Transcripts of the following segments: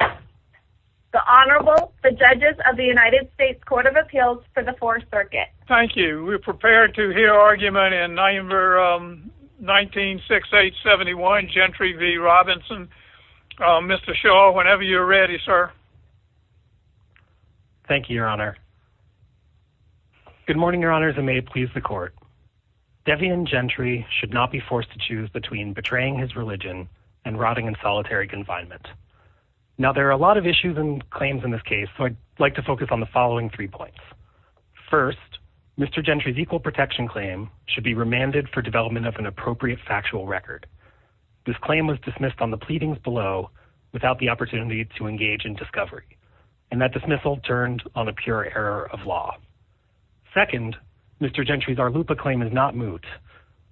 The Honorable, the Judges of the United States Court of Appeals for the Fourth Circuit. Thank you. We're prepared to hear argument in November 19, 6871, Gentry v. Robinson. Mr. Shaw, whenever you're ready, sir. Thank you, Your Honor. Good morning, Your Honors, and may it please the Court. Devion Gentry should not be forced to choose between betraying his religion and rotting in solitary confinement. Now, there are a lot of issues and claims in this case, so I'd like to focus on the following three points. First, Mr. Gentry's equal protection claim should be remanded for development of an appropriate factual record. This claim was dismissed on the pleadings below without the opportunity to engage in discovery. And that dismissal turned on a pure error of law. Second, Mr. Gentry's Arlupa claim is not moot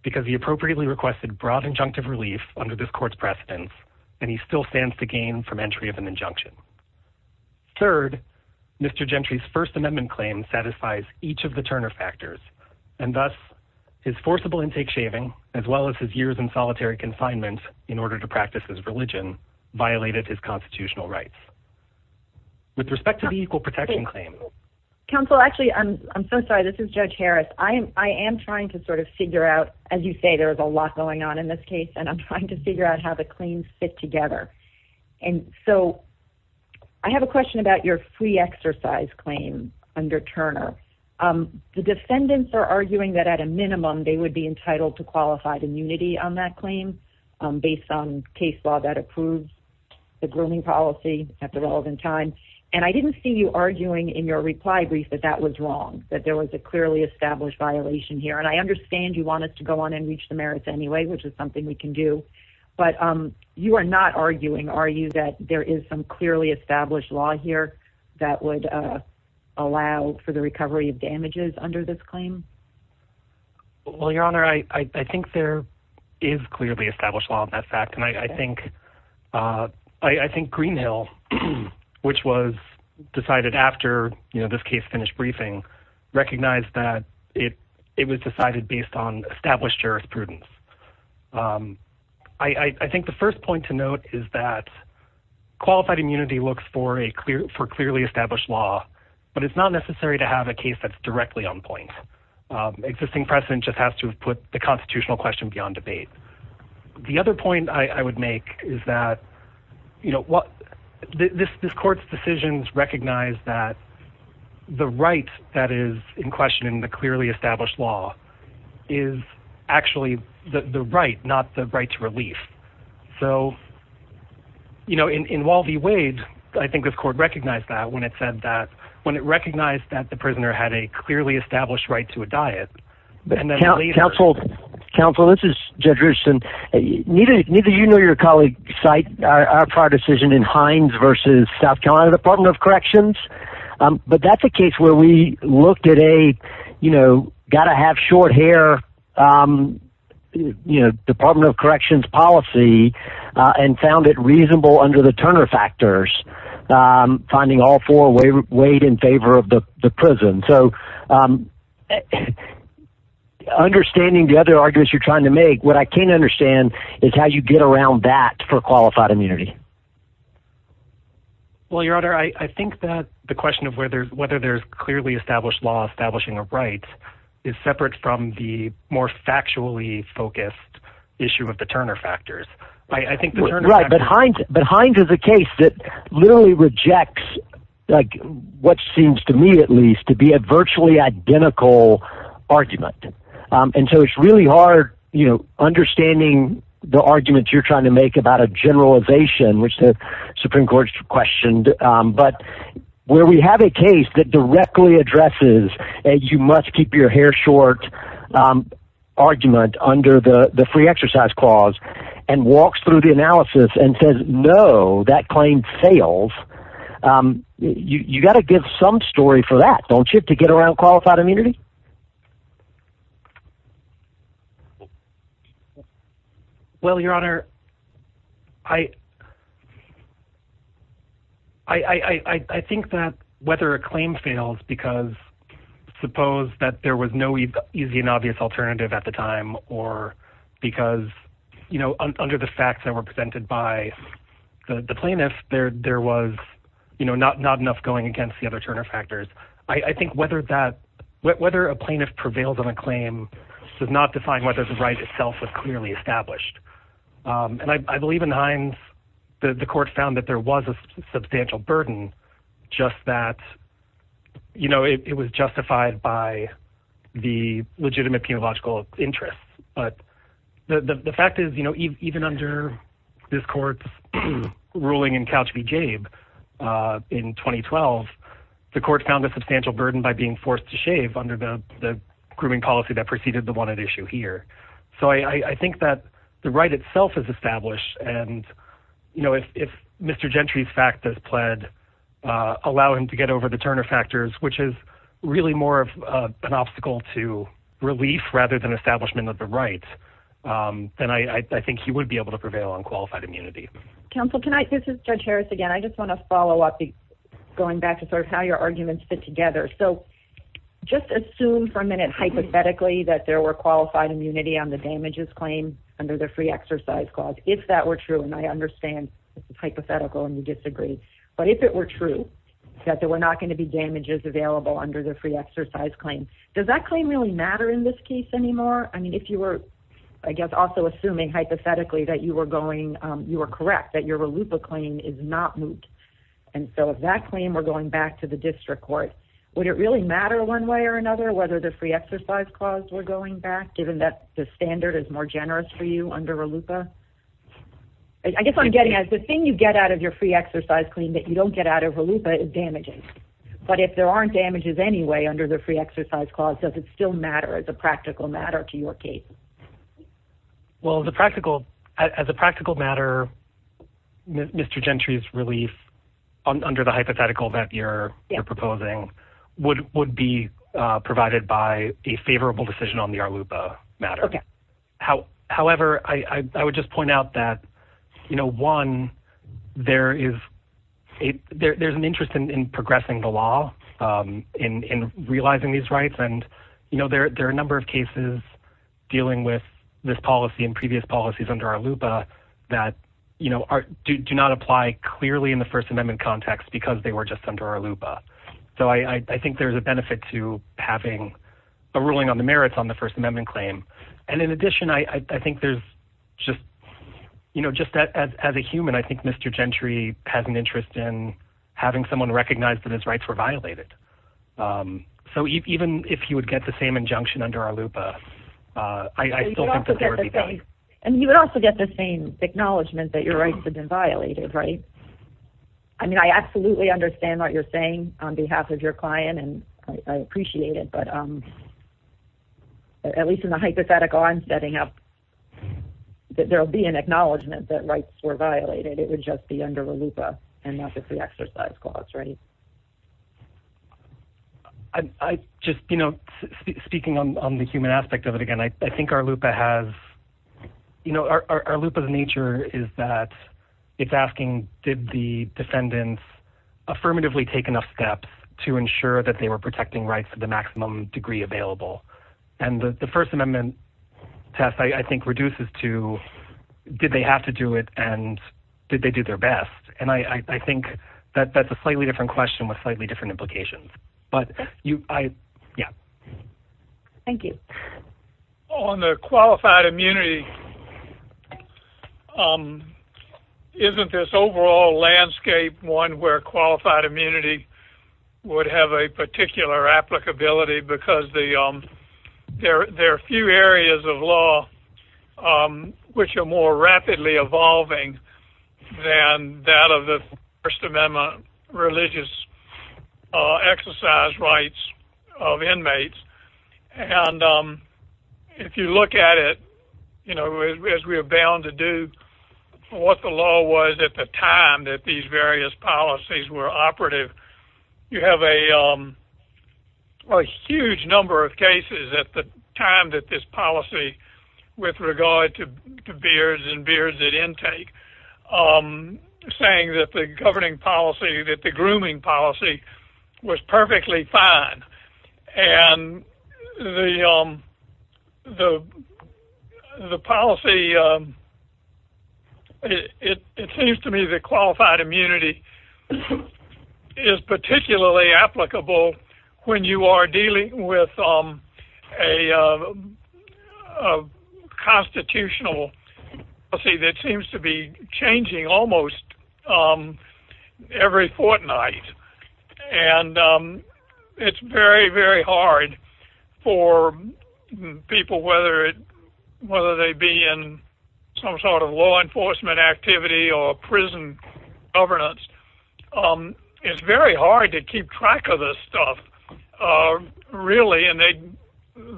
because he appropriately requested broad injunctive relief under this court's precedence, and he still stands to gain from entry of an injunction. Third, Mr. Gentry's First Amendment claim satisfies each of the Turner factors, and thus his forcible intake shaving, as well as his years in solitary confinement in order to practice his religion, violated his constitutional rights. With respect to the equal protection claim. Counsel, actually, I'm so sorry. This is Judge Harris. I am trying to sort of figure out, as you say, there is a lot going on in this case, and I'm trying to figure out how the claims fit together. And so I have a question about your free exercise claim under Turner. The defendants are arguing that at a minimum they would be entitled to qualified immunity on that claim based on case law that approves the grooming policy at the relevant time. And I didn't see you arguing in your reply brief that that was wrong, that there was a clearly established violation here. And I understand you want us to go on and reach the merits anyway, which is something we can do. But you are not arguing, are you, that there is some clearly established law here that would allow for the recovery of damages under this claim? Well, Your Honor, I think there is clearly established law on that fact. And I think Greenhill, which was decided after this case finished briefing, recognized that it was decided based on established jurisprudence. I think the first point to note is that qualified immunity looks for a clearly established law, but it's not necessary to have a case that's directly on point. Existing precedent just has to put the constitutional question beyond debate. The other point I would make is that this court's decisions recognize that the right that is in question in the clearly established law is actually the right, not the right to relief. So, you know, in Walby Wade, I think this court recognized that when it said that, when it recognized that the prisoner had a clearly established right to a diet. Counsel, this is Jed Richardson. Neither you nor your colleague cite our prior decision in Hines v. South Carolina Department of Corrections. But that's a case where we looked at a, you know, got to have short hair, you know, Department of Corrections policy and found it reasonable under the Turner factors, finding all four weighed in favor of the prison. So understanding the other arguments you're trying to make, what I can't understand is how you get around that for qualified immunity. Well, your honor, I think that the question of whether whether there's clearly established law, establishing a right is separate from the more factually focused issue of the Turner factors. I think the right behind behind is a case that literally rejects like what seems to me, at least to be a virtually identical argument. And so it's really hard, you know, which the Supreme Court questioned. But where we have a case that directly addresses, you must keep your hair short argument under the free exercise clause and walks through the analysis and says, no, that claim fails. You got to give some story for that, don't you, to get around qualified immunity. Well, your honor, I. I think that whether a claim fails because suppose that there was no easy and obvious alternative at the time or because, you know, under the facts that were presented by the plaintiffs, there was, you know, not not enough going against the other Turner factors. I think whether that whether a plaintiff prevails on a claim does not define whether the right itself was clearly established. And I believe in the Hines, the court found that there was a substantial burden just that, you know, it was justified by the legitimate theological interests. But the fact is, you know, even under this court's ruling in couch, we gave in 2012 the court found a substantial burden by being forced to shave under the grooming policy that preceded the one at issue here. So I think that the right itself is established. And, you know, if Mr. Gentry's fact has pled, allow him to get over the Turner factors, which is really more of an obstacle to relief rather than establishment of the rights, then I think he would be able to prevail on qualified immunity. Counsel, can I. This is Judge Harris again. I just want to follow up, going back to sort of how your arguments fit together. So just assume for a minute, hypothetically, that there were qualified immunity on the damages claim under the free exercise clause, if that were true. And I understand it's hypothetical and you disagree. But if it were true that there were not going to be damages available under the free exercise claim, does that claim really matter in this case anymore? I mean, if you were, I guess, also assuming hypothetically that you were going. You were correct that your loop of claim is not moot. And so if that claim were going back to the district court, would it really matter one way or another? Whether the free exercise clause were going back, given that the standard is more generous for you under a looper? I guess I'm getting at the thing you get out of your free exercise claim that you don't get out of a loop of damages. But if there aren't damages anyway under the free exercise clause, does it still matter as a practical matter to your case? Well, the practical as a practical matter. Mr. Gentry's relief under the hypothetical that you're proposing would would be provided by a favorable decision on the loop matter. However, I would just point out that, you know, one, there is a there's an interest in progressing the law in realizing these rights. And, you know, there are a number of cases dealing with this policy and previous policies under our looper that, you know, do not apply clearly in the First Amendment context because they were just under our looper. So I think there is a benefit to having a ruling on the merits on the First Amendment claim. And in addition, I think there's just, you know, just as a human. I think Mr. Gentry has an interest in having someone recognize that his rights were violated. So even if you would get the same injunction under our looper, I still think that there would be. And you would also get the same acknowledgment that your rights have been violated. Right. I mean, I absolutely understand what you're saying on behalf of your client and I appreciate it. But at least in the hypothetical, I'm setting up that there will be an acknowledgment that rights were violated. It would just be under a looper and not the free exercise clause. Right. I just, you know, speaking on the human aspect of it again, I think our looper has, you know, our looper. And I think that's the nature is that it's asking, did the defendants affirmatively take enough steps to ensure that they were protecting rights to the maximum degree available? And the First Amendment test, I think, reduces to did they have to do it? And did they do their best? And I think that that's a slightly different question with slightly different implications. But, yeah. Thank you. On the qualified immunity, isn't this overall landscape one where qualified immunity would have a particular applicability? Because there are a few areas of law which are more rapidly evolving than that of the First Amendment religious exercise rights of inmates. And if you look at it, you know, as we are bound to do, what the law was at the time that these various policies were operative, you have a huge number of cases at the time that this policy, with regard to beards and beards at intake, saying that the governing policy, that the grooming policy was perfectly fine. And the policy, it seems to me that qualified immunity is particularly applicable when you are dealing with a constitutional policy that seems to be changing almost every fortnight. And it's very, very hard for people, whether they be in some sort of law enforcement activity or prison governance, it's very hard to keep track of this stuff, really. And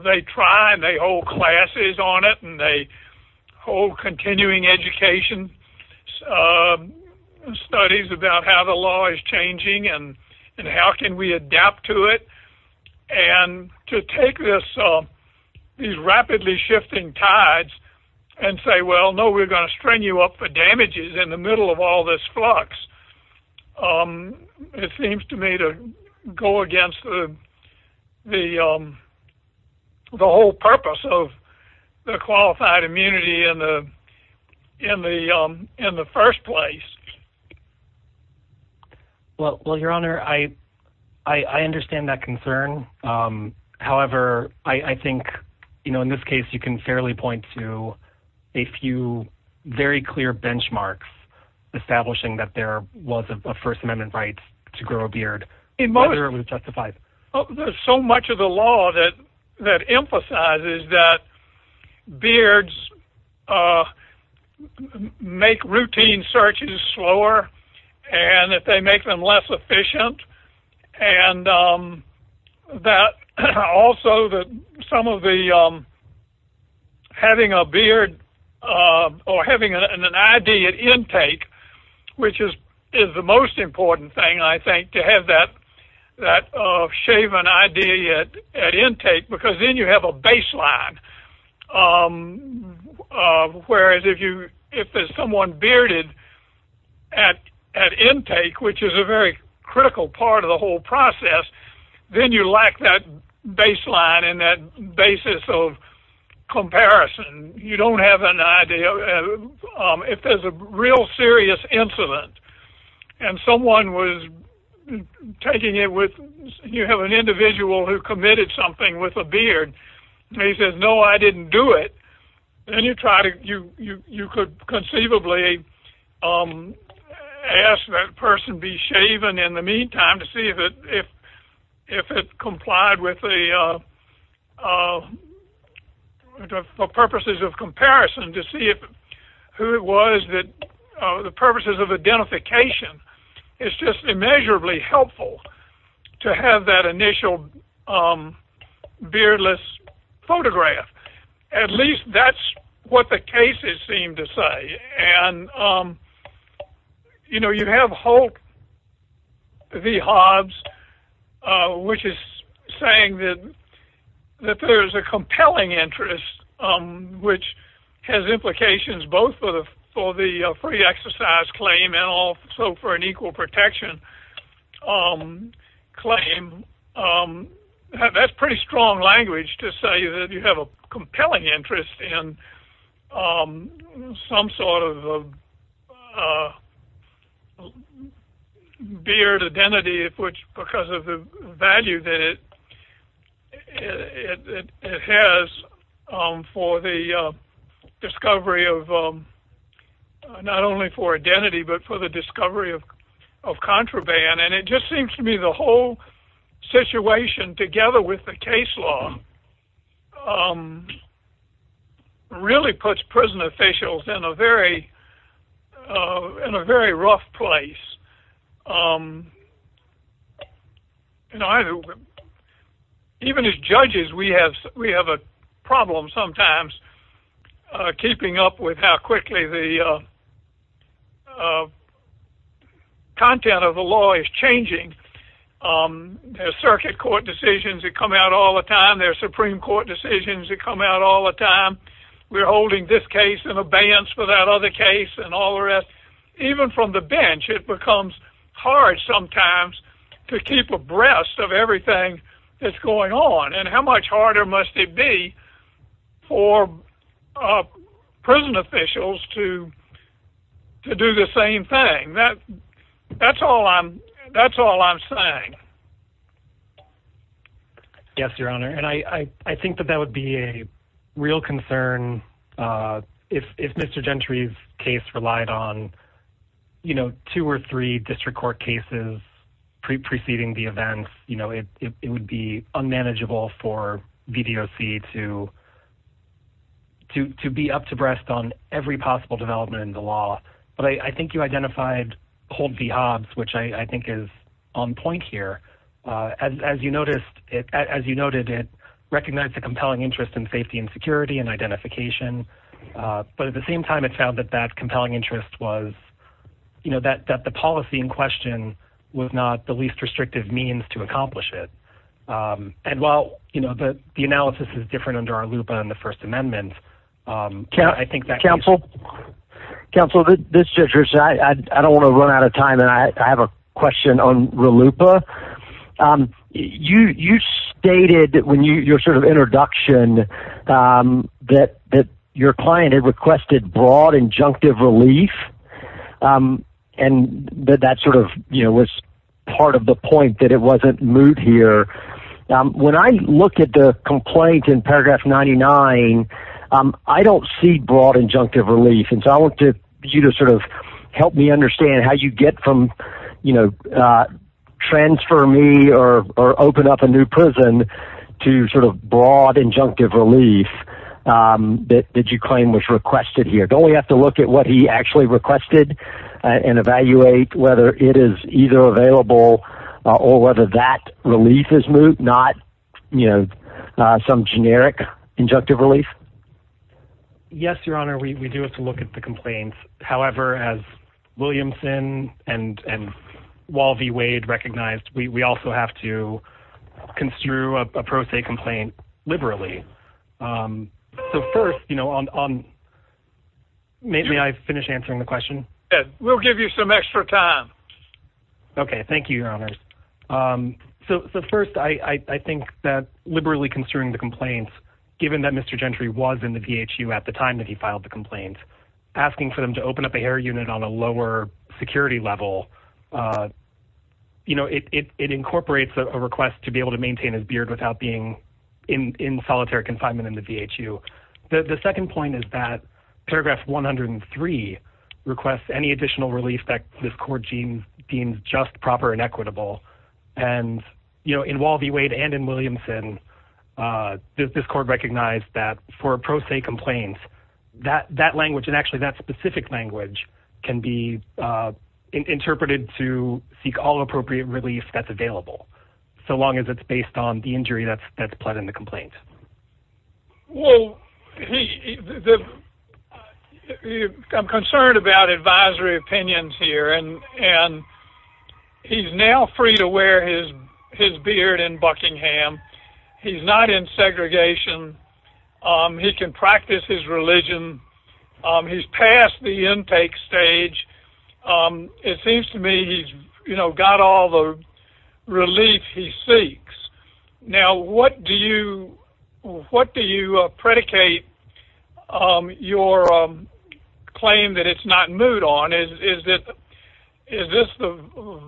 they try and they hold classes on it and they hold continuing education studies about how the law is changing and how can we adapt to it. And to take these rapidly shifting tides and say, well, no, we're going to string you up for damages in the middle of all this flux, it seems to me to go against the whole purpose of the qualified immunity in the first place. Well, your honor, I understand that concern. However, I think, you know, in this case, you can fairly point to a few very clear benchmarks establishing that there was a First Amendment right to grow a beard. So much of the law that emphasizes that beards make routine searches slower and that they make them less efficient and that also that some of the having a beard or having an ID at intake, which is the most important thing, I think, to have that shaven ID at intake, because then you have a baseline. Whereas if there's someone bearded at intake, which is a very critical part of the whole process, then you lack that baseline and that basis of comparison. You don't have an idea. If there's a real serious incident and someone was taking it with, you have an individual who committed something with a beard, and he says, no, I didn't do it, then you try to, you could conceivably ask that person to be shaven in the meantime to see if it complied with the purposes of comparison to see who it was that, the purposes of identification. It's just immeasurably helpful to have that initial beardless photograph. Now, what the cases seem to say, and you have Holt v. Hobbs, which is saying that there's a compelling interest, which has implications both for the free exercise claim and also for an equal protection claim. That's pretty strong language to say that you have a compelling interest in some sort of beard identity because of the value that it has for the discovery of, not only for identity, but for the discovery of contraband. It just seems to me the whole situation, together with the case law, really puts prison officials in a very rough place. Even as judges, we have a problem sometimes keeping up with how quickly the content of the law is changing. There's circuit court decisions that come out all the time, there's Supreme Court decisions that come out all the time. We're holding this case in abeyance for that other case and all the rest. Even from the bench, it becomes hard sometimes to keep abreast of everything that's going on, and how much harder must it be for prison officials to do the same thing? That's all I'm saying. Yes, Your Honor. I think that that would be a real concern if Mr. Gentry's case relied on two or three district court cases preceding the events. It would be unmanageable for VDOC to be up to breast on every possible development in the law. I think you identified Hold v. Hobbs, which I think is on point here. As you noted, it recognized a compelling interest in safety and security and identification. But at the same time, it found that that compelling interest was that the policy in question was not the least restrictive means to accomplish it. While the analysis is different under RLUIPA and the First Amendment, I think that... Counsel, this is Judge Rich. I don't want to run out of time, and I have a question on RLUIPA. You stated in your introduction that your client had requested broad injunctive relief. That was part of the point, that it wasn't moot here. When I look at the complaint in paragraph 99, I don't see broad injunctive relief. I want you to help me understand how you get from transfer me or open up a new prison to broad injunctive relief that you claim was requested here. Don't we have to look at what he actually requested and evaluate whether it is either available or whether that relief is moot, not some generic injunctive relief? Yes, Your Honor. We do have to look at the complaints. However, as Williamson and Wall v. Wade recognized, we also have to construe a pro se complaint liberally. First, may I finish answering the question? Yes. We'll give you some extra time. Okay. Thank you, Your Honor. First, I think that liberally construing the complaints, given that Mr. Gentry was in the VHU at the time that he filed the complaint, asking for them to open up an air unit on a lower security level, it incorporates a request to be able to maintain his beard without being in solitary confinement in the VHU. The second point is that paragraph 103 requests any additional relief that this court deems just proper and equitable. In Wall v. Wade and in Williamson, this court recognized that for pro se complaints, that language and actually that specific language can be interpreted to seek all appropriate relief that's available, so long as it's based on the injury that's pled in the complaint. Well, I'm concerned about advisory opinions here, and he's now free to wear his beard in Buckingham. He's not in segregation. He can practice his religion. He's past the intake stage. It seems to me he's got all the relief he seeks. Now, what do you predicate your claim that it's not moot on? Is this the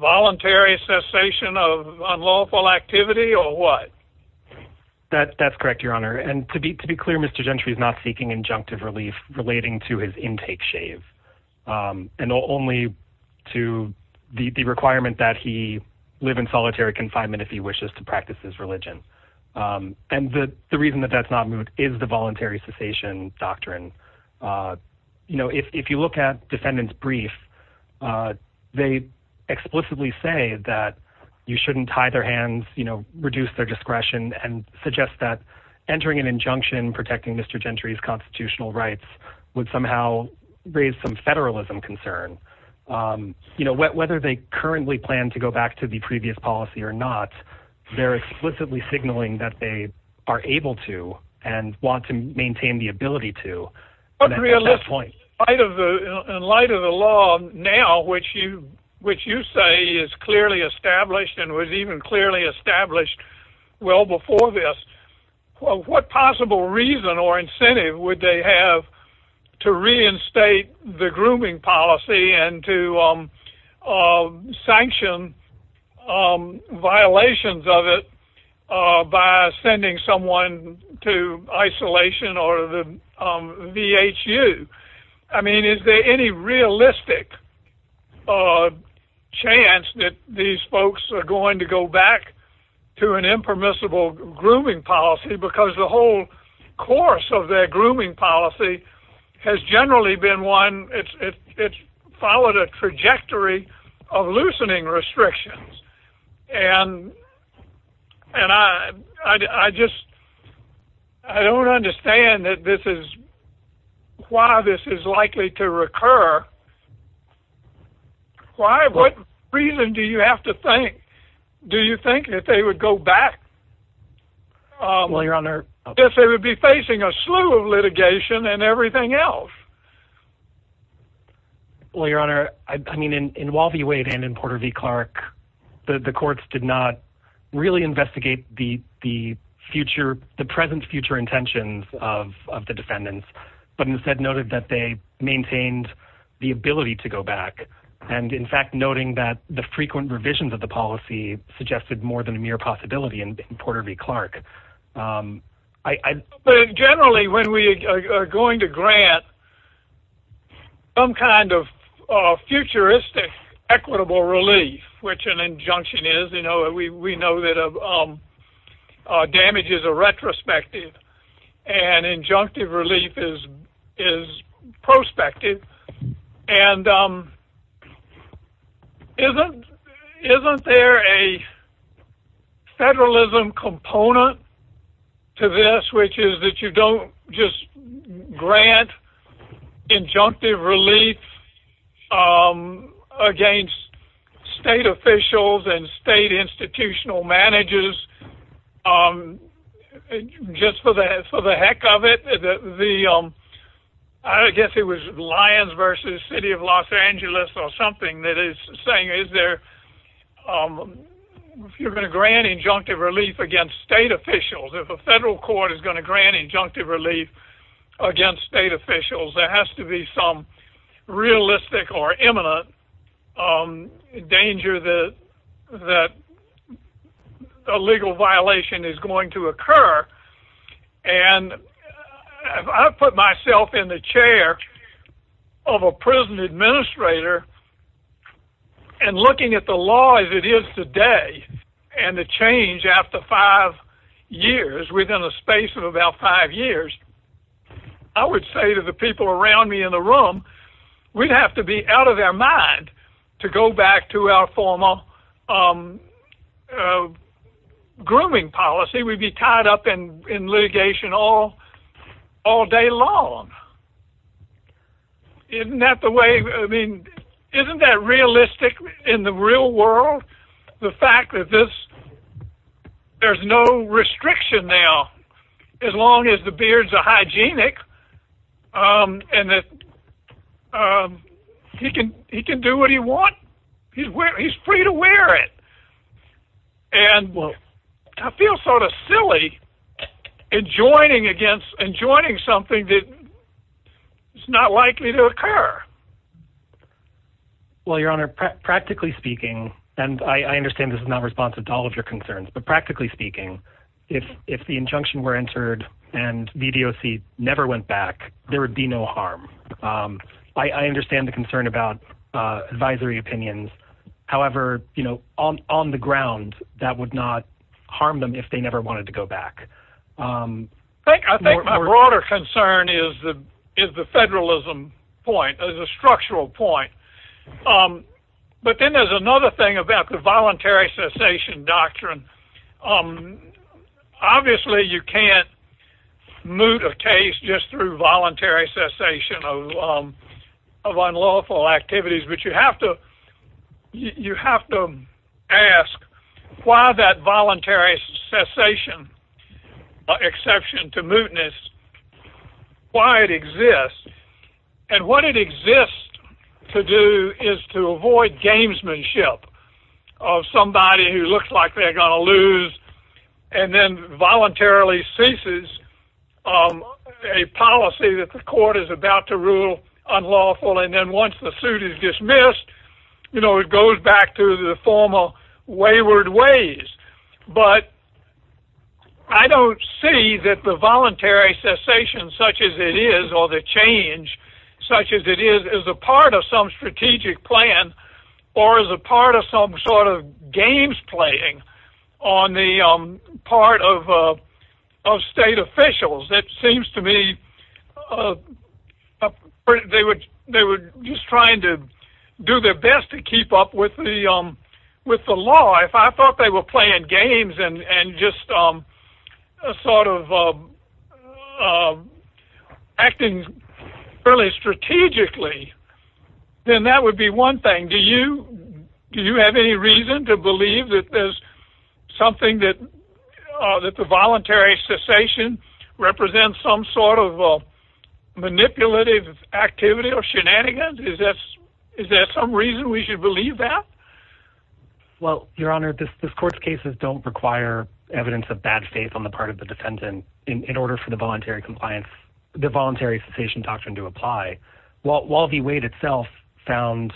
voluntary cessation of unlawful activity or what? That's correct, Your Honor, and to be clear, Mr. Gentry is not seeking injunctive relief relating to his intake shave, and only to the requirement that he live in solitary confinement if he wishes to practice his religion. And the reason that that's not moot is the voluntary cessation doctrine. If you look at defendant's brief, they explicitly say that you shouldn't tie their hands, reduce their discretion, and suggest that entering an injunction protecting Mr. Gentry's constitutional rights would somehow raise some federalism concern. Whether they currently plan to go back to the previous policy or not, they're explicitly signaling that they are able to and want to maintain the ability to. In light of the law now, which you say is clearly established and was even clearly established well before this, what possible reason or incentive would they have to reinstate the grooming policy and to sanction violations of it by sending someone to isolation or the VHU? I mean, is there any realistic chance that these folks are going to go back to an impermissible grooming policy? Because the whole course of their grooming policy has generally been one that's followed a trajectory of loosening restrictions. And I just don't understand why this is likely to recur. What reason do you have to think that they would go back if they would be facing a slew of litigation and everything else? Well, Your Honor, I mean, in Walvey Wade and in Porter v. Clark, the courts did not really investigate the present future intentions of the defendants, but instead noted that they maintained the ability to go back. And in fact, noting that the frequent revisions of the policy suggested more than a mere possibility in Porter v. Clark. But generally, when we are going to grant some kind of futuristic equitable relief, which an injunction is, we know that damages are retrospective and injunctive relief is prospective. And isn't there a federalism component to this, which is that you don't just grant injunctive relief against state officials and state institutional managers just for the heck of it? I guess it was Lyons v. City of Los Angeles or something that is saying, if you're going to grant injunctive relief against state officials, if a federal court is going to grant injunctive relief against state officials, there has to be some realistic or imminent danger that a legal violation is going to occur. And I put myself in the chair of a prison administrator and looking at the law as it is today and the change after five years, within a space of about five years, I would say to the people around me in the room, we'd have to be out of their mind to go back to our former grooming policy. We'd be tied up in litigation all day long. Isn't that realistic in the real world, the fact that there's no restriction now? As long as the beards are hygienic and he can do what he wants, he's free to wear it. I feel sort of silly adjoining something that is not likely to occur. Well, your honor, practically speaking, and I understand this is not responsive to all of your concerns, but practically speaking, if the injunction were entered and VDOC never went back, there would be no harm. I understand the concern about advisory opinions. However, on the ground, that would not harm them if they never wanted to go back. I think my broader concern is the federalism point, as a structural point. But then there's another thing about the voluntary cessation doctrine. Obviously, you can't moot a case just through voluntary cessation of unlawful activities. But you have to ask why that voluntary cessation exception to mootness, why it exists. And what it exists to do is to avoid gamesmanship of somebody who looks like they're going to lose and then voluntarily ceases a policy that the court is about to rule unlawful. And then once the suit is dismissed, it goes back to the former wayward ways. But I don't see that the voluntary cessation, such as it is, or the change, such as it is, is a part of some strategic plan or is a part of some sort of games playing on the part of state officials. It seems to me they were just trying to do their best to keep up with the law. If I thought they were playing games and just sort of acting fairly strategically, then that would be one thing. Do you have any reason to believe that there's something that the voluntary cessation represents some sort of manipulative activity or shenanigans? Is there some reason we should believe that? Well, Your Honor, this court's cases don't require evidence of bad faith on the part of the defendant in order for the voluntary cessation doctrine to apply. While the weight itself found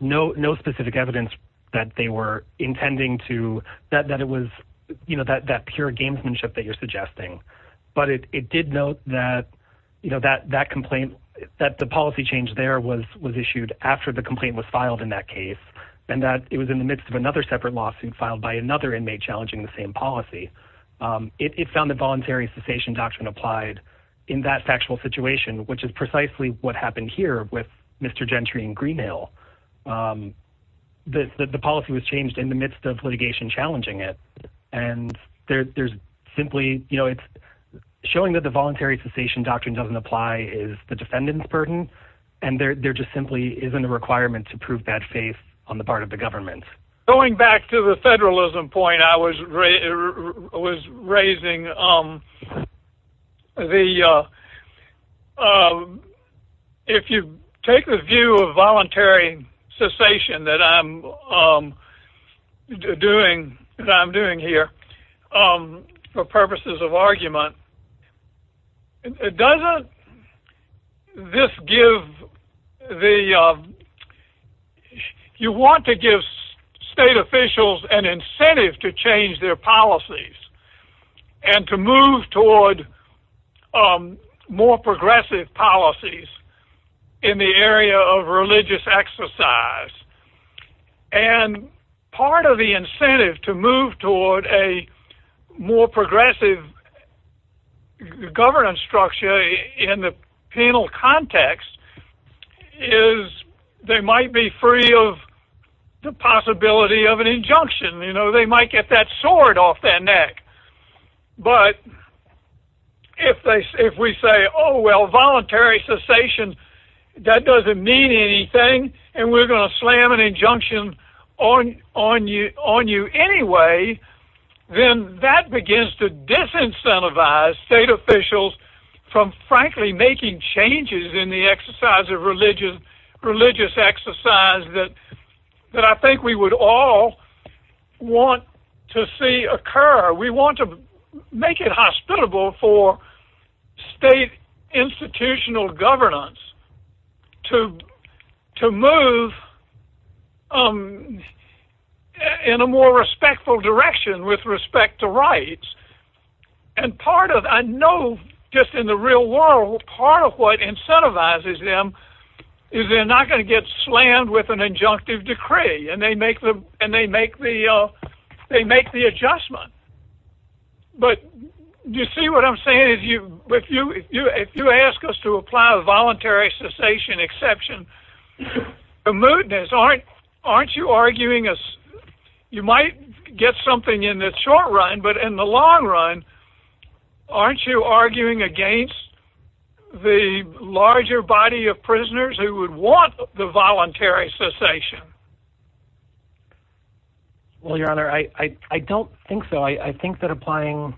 no specific evidence that they were intending to, that it was that pure gamesmanship that you're suggesting. But it did note that that complaint, that the policy change there was issued after the complaint was filed in that case. And that it was in the midst of another separate lawsuit filed by another inmate challenging the same policy. It found the voluntary cessation doctrine applied in that factual situation, which is precisely what happened here with Mr. Gentry in Green Hill. The policy was changed in the midst of litigation challenging it. And there's simply, you know, it's showing that the voluntary cessation doctrine doesn't apply is the defendant's burden. And there just simply isn't a requirement to prove bad faith on the part of the government. Going back to the federalism point I was raising, if you take the view of voluntary cessation that I'm doing here for purposes of argument, doesn't this give the, you want to give state officials an incentive to change their policies. And to move toward more progressive policies in the area of religious exercise. And part of the incentive to move toward a more progressive governance structure in the penal context is they might be free of the possibility of an injunction. You know, they might get that sword off their neck. But if we say, oh, well, voluntary cessation, that doesn't mean anything, and we're going to slam an injunction on you anyway, then that begins to disincentivize state officials from frankly making changes in the exercise of religious exercise that I think we would all want to see occur. We want to make it hospitable for state institutional governance to move in a more respectful direction with respect to rights. And part of, I know just in the real world, part of what incentivizes them is they're not going to get slammed with an injunctive decree, and they make the adjustment. But you see what I'm saying? If you ask us to apply a voluntary cessation exception, aren't you arguing, you might get something in the short run, but in the long run, aren't you arguing against the larger body of prisoners who would want the voluntary cessation? Well, Your Honor, I don't think so. I think that applying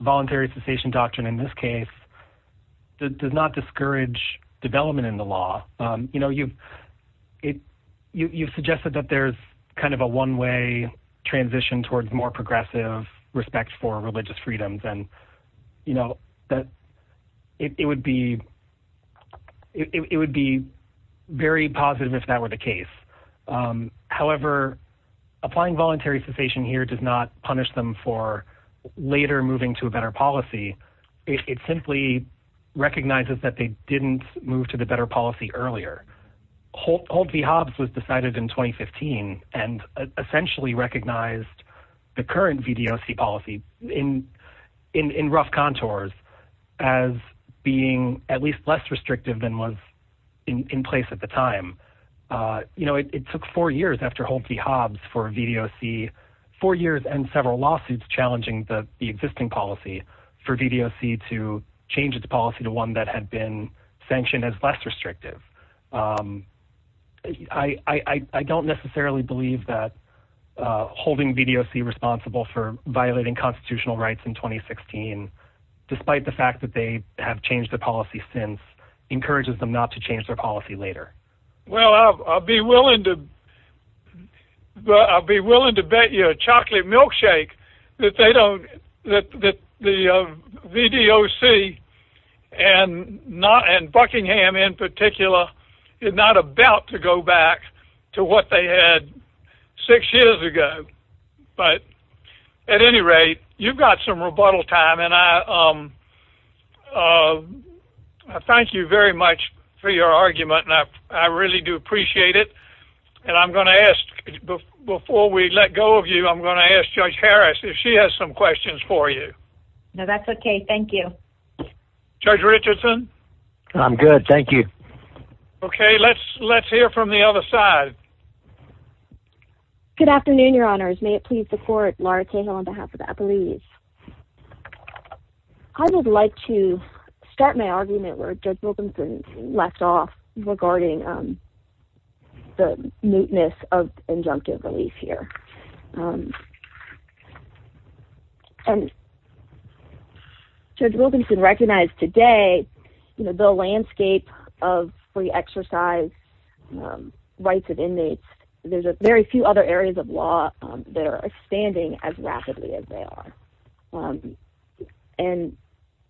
voluntary cessation doctrine in this case does not discourage development in the law. You know, you've suggested that there's kind of a one-way transition towards more progressive respect for religious freedoms, and it would be very positive if that were the case. However, applying voluntary cessation here does not punish them for later moving to a better policy. It simply recognizes that they didn't move to the better policy earlier. Holt v. Hobbs was decided in 2015 and essentially recognized the current VDOC policy in rough contours as being at least less restrictive than was in place at the time. You know, it took four years after Holt v. Hobbs for VDOC, four years and several lawsuits challenging the existing policy, for VDOC to change its policy to one that had been sanctioned as less restrictive. I don't necessarily believe that holding VDOC responsible for violating constitutional rights in 2016, despite the fact that they have changed the policy since, encourages them not to change their policy later. Well, I'll be willing to bet you a chocolate milkshake that the VDOC and Buckingham in particular is not about to go back to what they had six years ago. At any rate, you've got some rebuttal time, and I thank you very much for your argument. I really do appreciate it. And I'm going to ask, before we let go of you, I'm going to ask Judge Harris if she has some questions for you. No, that's okay. Thank you. Judge Richardson? I'm good. Thank you. Okay, let's hear from the other side. Good afternoon, Your Honors. May it please the Court, Laura Cahill on behalf of Appalachia. I would like to start my argument where Judge Wilkinson left off regarding the mootness of injunctive relief here. And Judge Wilkinson recognized today the landscape of free exercise rights of inmates. There's very few other areas of law that are expanding as rapidly as they are. And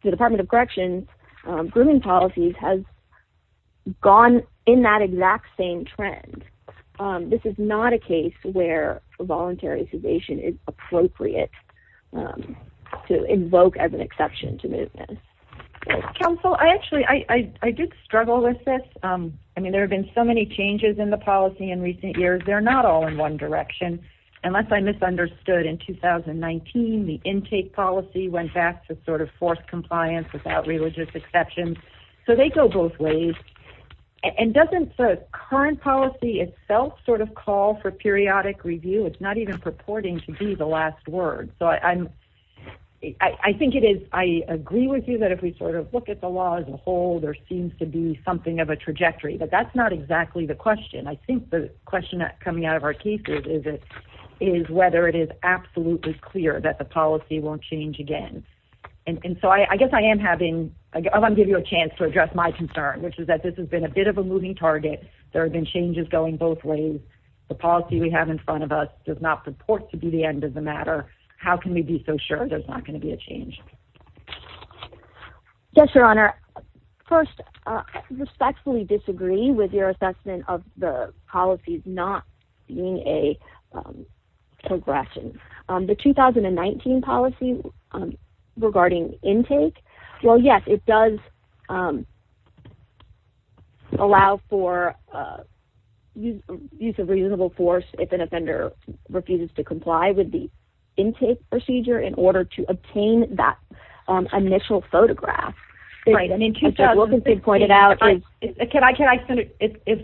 the Department of Corrections grooming policies has gone in that exact same trend. This is not a case where voluntary sedation is appropriate to invoke as an exception to mootness. Counsel, actually, I did struggle with this. I mean, there have been so many changes in the policy in recent years. They're not all in one direction. Unless I misunderstood, in 2019, the intake policy went back to sort of forced compliance without religious exception. So they go both ways. And doesn't the current policy itself sort of call for periodic review? It's not even purporting to be the last word. So I think it is. I agree with you that if we sort of look at the law as a whole, there seems to be something of a trajectory. But that's not exactly the question. I think the question coming out of our cases is whether it is absolutely clear that the policy won't change again. And so I guess I am giving you a chance to address my concern, which is that this has been a bit of a moving target. There have been changes going both ways. The policy we have in front of us does not purport to be the end of the matter. How can we be so sure there's not going to be a change? Yes, Your Honor. First, I respectfully disagree with your assessment of the policies not being a progression. The 2019 policy regarding intake, well, yes, it does allow for use of reasonable force if an offender refuses to comply with the intake procedure in order to obtain that initial photograph. Right. I mean, can I say,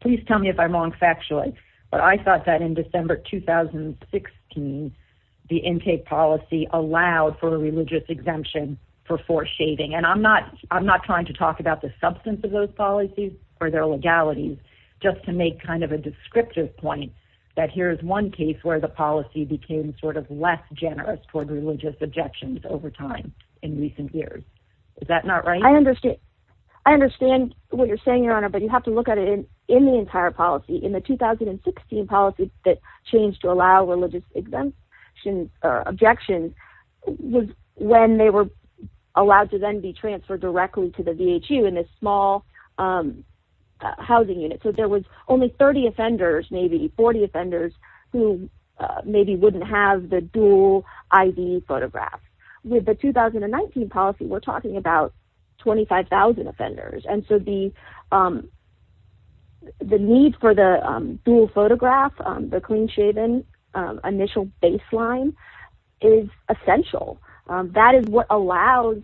please tell me if I'm wrong factually. But I thought that in December 2016, the intake policy allowed for a religious exemption for force shaving. And I'm not trying to talk about the substance of those policies or their legalities, just to make kind of a descriptive point that here is one case where the policy became sort of less generous toward religious objections over time in recent years. Is that not right? I understand what you're saying, Your Honor, but you have to look at it in the entire policy. In the 2016 policy that changed to allow religious exemptions or objections was when they were allowed to then be transferred directly to the VHU in this small housing unit. So there was only 30 offenders, maybe 40 offenders, who maybe wouldn't have the dual ID photograph. With the 2019 policy, we're talking about 25,000 offenders. And so the need for the dual photograph, the clean shaven initial baseline is essential. That is what allows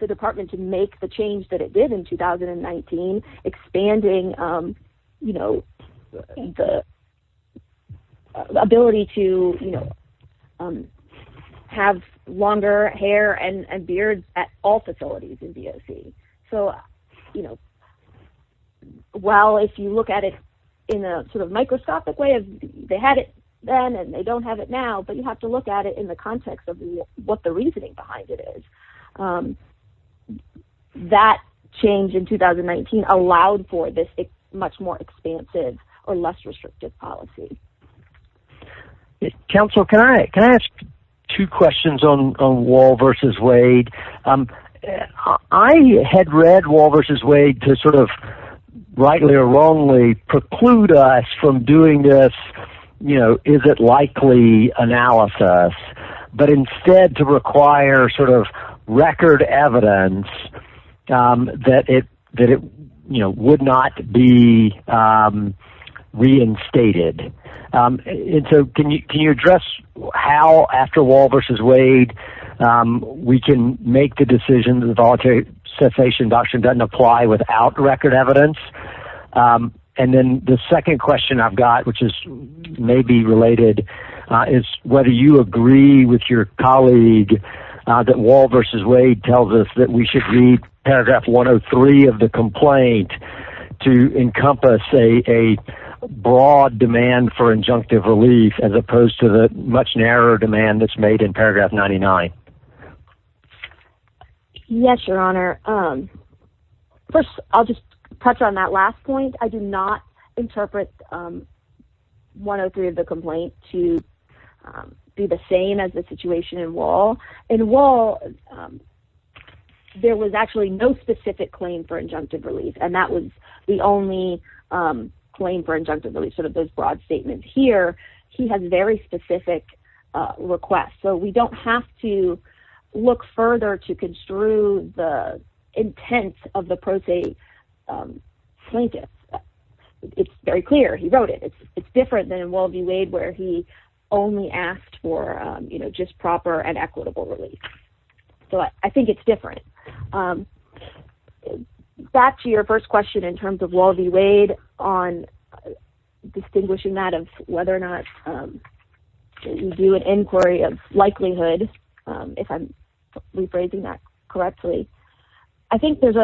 the department to make the change that it did in 2019, expanding the ability to have longer hair and beard at all facilities in DOC. So while if you look at it in a sort of microscopic way, they had it then and they don't have it now, but you have to look at it in the context of what the reasoning behind it is. That change in 2019 allowed for this much more expansive or less restrictive policy. Counsel, can I ask two questions on Wall v. Wade? I had read Wall v. Wade to sort of rightly or wrongly preclude us from doing this, you know, is it likely analysis, but instead to require sort of record evidence that it would not be reinstated. Can you address how after Wall v. Wade we can make the decision that the voluntary cessation doctrine doesn't apply without record evidence? And then the second question I've got, which is maybe related, is whether you agree with your colleague that Wall v. Wade tells us that we should read paragraph 103 of the complaint to encompass a broad demand for injunctive relief as opposed to the much narrower demand that's made in paragraph 99. Yes, Your Honor. First, I'll just touch on that last point. I do not interpret 103 of the complaint to be the same as the situation in Wall. In Wall, there was actually no specific claim for injunctive relief and that was the only claim for injunctive relief, sort of those broad statements. Here, he has very specific requests, so we don't have to look further to construe the intent of the pro se plaintiff. It's very clear. He wrote it. It's different than Wall v. Wade where he only asked for, you know, just proper and equitable relief. So I think it's different. Back to your first question in terms of Wall v. Wade on distinguishing that of whether or not you do an inquiry of likelihood, if I'm rephrasing that correctly, I think there's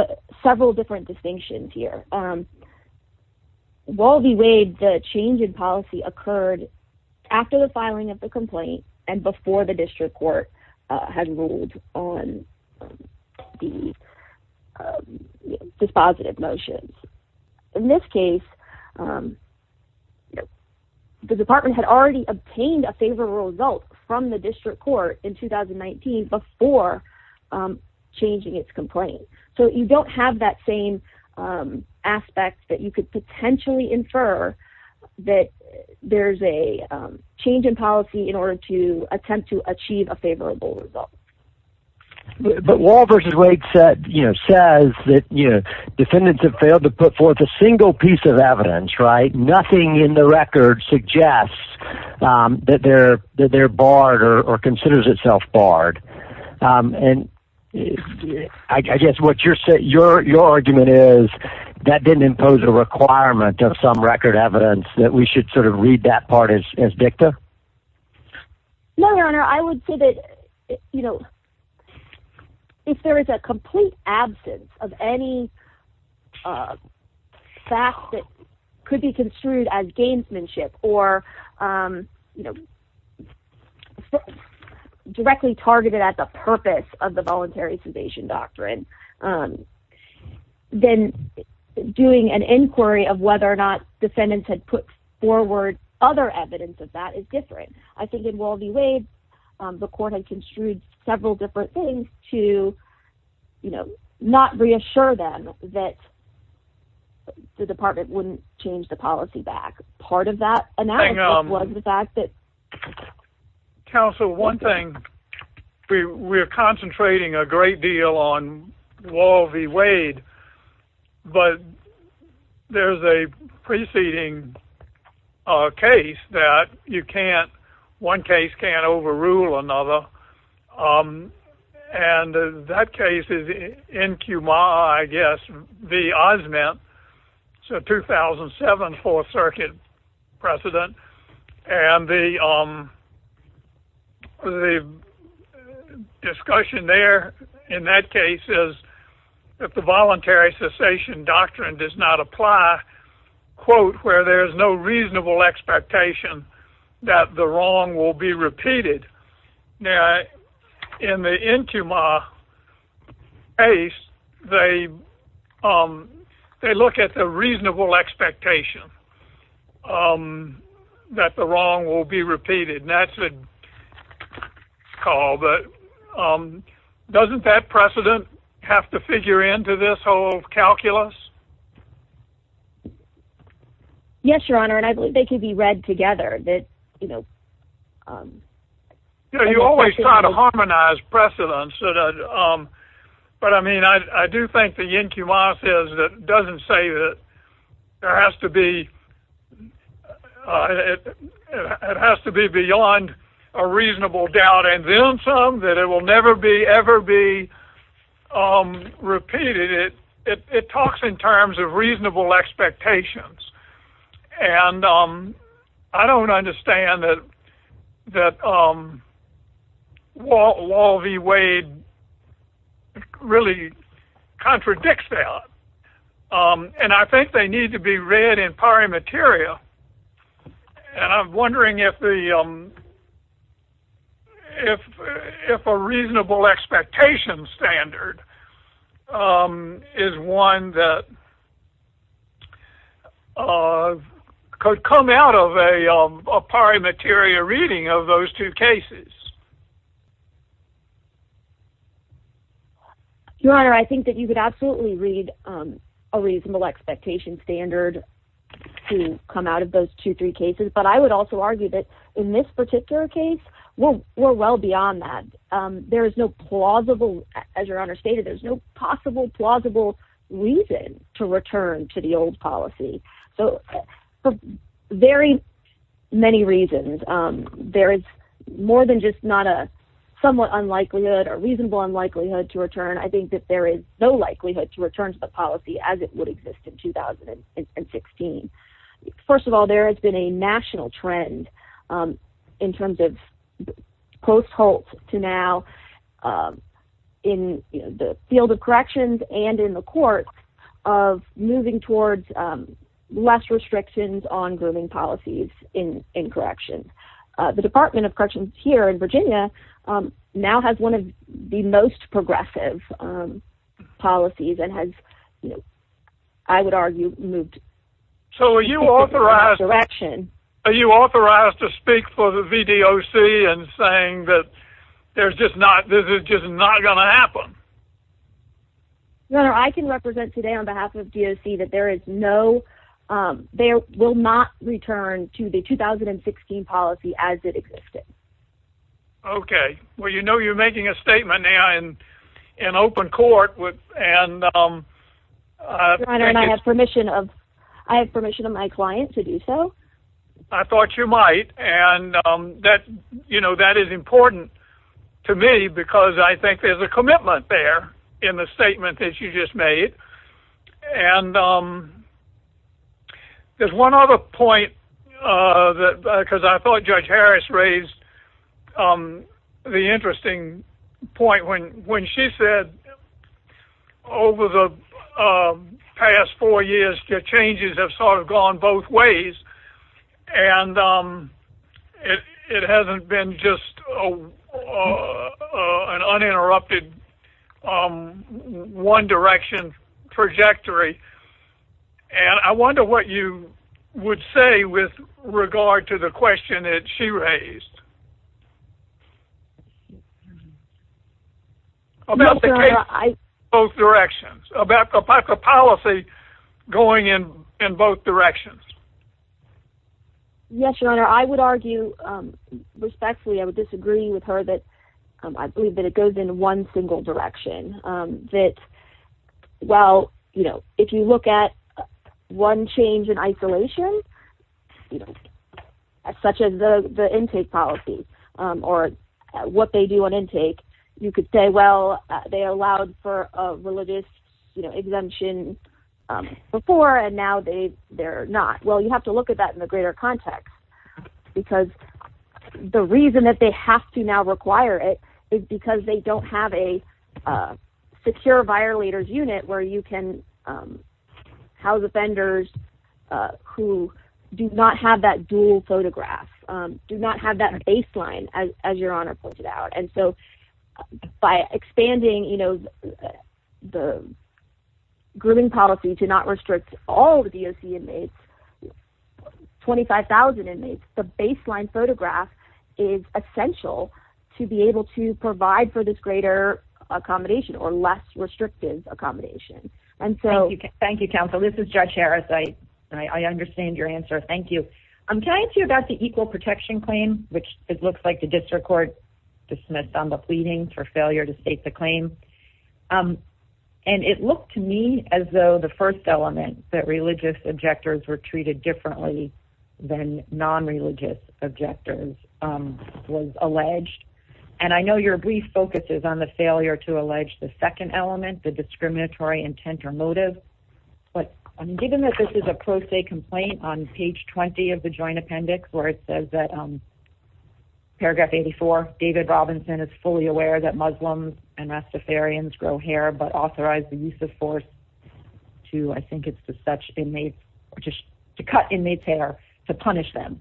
several different distinctions here. In Wall v. Wade, the change in policy occurred after the filing of the complaint and before the district court had ruled on the dispositive motions. In this case, the department had already obtained a favorable result from the district court in 2019 before changing its complaint. So you don't have that same aspect that you could potentially infer that there's a change in policy in order to attempt to achieve a favorable result. But Wall v. Wade says that defendants have failed to put forth a single piece of evidence, right? Nothing in the record suggests that they're barred or considers itself barred. And I guess what your argument is, that didn't impose a requirement of some record evidence that we should sort of read that part as dicta? No, Your Honor. I would say that, you know, if there is a complete absence of any fact that could be construed as gamesmanship or, you know, directly targeted at the purpose of the voluntary submission doctrine, then doing an inquiry of whether or not defendants had put forward other evidence of that is different. I think in Wall v. Wade, the court had construed several different things to, you know, not reassure them that the department wouldn't change the policy back. Counsel, one thing, we're concentrating a great deal on Wall v. Wade, but there's a preceding case that you can't, one case can't overrule another. And that case is N. Q. Ma, I guess, v. Osment. It's a 2007 Fourth Circuit precedent. And the discussion there in that case is that the voluntary cessation doctrine does not apply, quote, where there's no reasonable expectation that the wrong will be repeated. Now, in the N. Q. Ma case, they look at the reasonable expectation that the wrong will be repeated. And that's a call, but doesn't that precedent have to figure into this whole calculus? Yes, Your Honor, and I believe they can be read together. You know, you always try to harmonize precedents. But I mean, I do think the N. Q. Ma says that it doesn't say that there has to be, it has to be beyond a reasonable doubt and then some, that it will never be, ever be repeated. It talks in terms of reasonable expectations. And I don't understand that Wall v. Wade really contradicts that. And I think they need to be read in pari materia. And I'm wondering if a reasonable expectation standard is one that could come out of a pari materia reading of those two cases. Your Honor, I think that you could absolutely read a reasonable expectation standard to come out of those two, three cases. But I would also argue that in this particular case, we're well beyond that. There is no plausible, as Your Honor stated, there's no possible plausible reason to return to the old policy. So for very many reasons, there is more than just not a somewhat unlikelihood or reasonable unlikelihood to return. I think that there is no likelihood to return to the policy as it would exist in 2016. First of all, there has been a national trend in terms of post-Holtz to now in the field of corrections and in the courts of moving towards less restrictions on grooming policies in corrections. The Department of Corrections here in Virginia now has one of the most progressive policies and has, I would argue, moved in the right direction. So are you authorized to speak for the VDOC in saying that this is just not going to happen? Your Honor, I can represent today on behalf of VDOC that there is no, there will not return to the 2016 policy as it existed. Okay. Well, you know you're making a statement now in open court and Your Honor, I have permission of my client to do so. I thought you might and that, you know, that is important to me because I think there's a commitment there in the statement that you just made. And there's one other point because I thought Judge Harris raised the interesting point when she said that over the past four years, the changes have sort of gone both ways. And it hasn't been just an uninterrupted one direction trajectory. And I wonder what you would say with regard to the question that she raised. About the case going both directions. About the policy going in both directions. Yes, Your Honor, I would argue respectfully, I would disagree with her that I believe that it goes in one single direction. That, well, you know, if you look at one change in isolation, you know, such as the intake policy or what they do on intake, you could say, well, they allowed for a religious exemption before and now they're not. Well, you have to look at that in the greater context because the reason that they have to now require it is because they don't have a secure violators unit where you can house offenders who do not have that dual photograph, do not have that baseline as Your Honor pointed out. And so by expanding, you know, the grooming policy to not restrict all the DOC inmates, 25,000 inmates, the baseline photograph is essential to be able to provide for this greater accommodation or less restrictive accommodation. Thank you, counsel. This is Judge Harris. I understand your answer. Thank you. Can I ask you about the equal protection claim, which it looks like the district court dismissed on the pleading for failure to state the claim. And it looked to me as though the first element that religious objectors were treated differently than non-religious objectors was alleged. And I know your brief focus is on the failure to allege the second element, the discriminatory intent or motive. But given that this is a pro se complaint on page 20 of the joint appendix where it says that. Paragraph 84, David Robinson is fully aware that Muslims and Rastafarians grow hair, but authorize the use of force to I think it's to such inmates or just to cut inmates hair to punish them.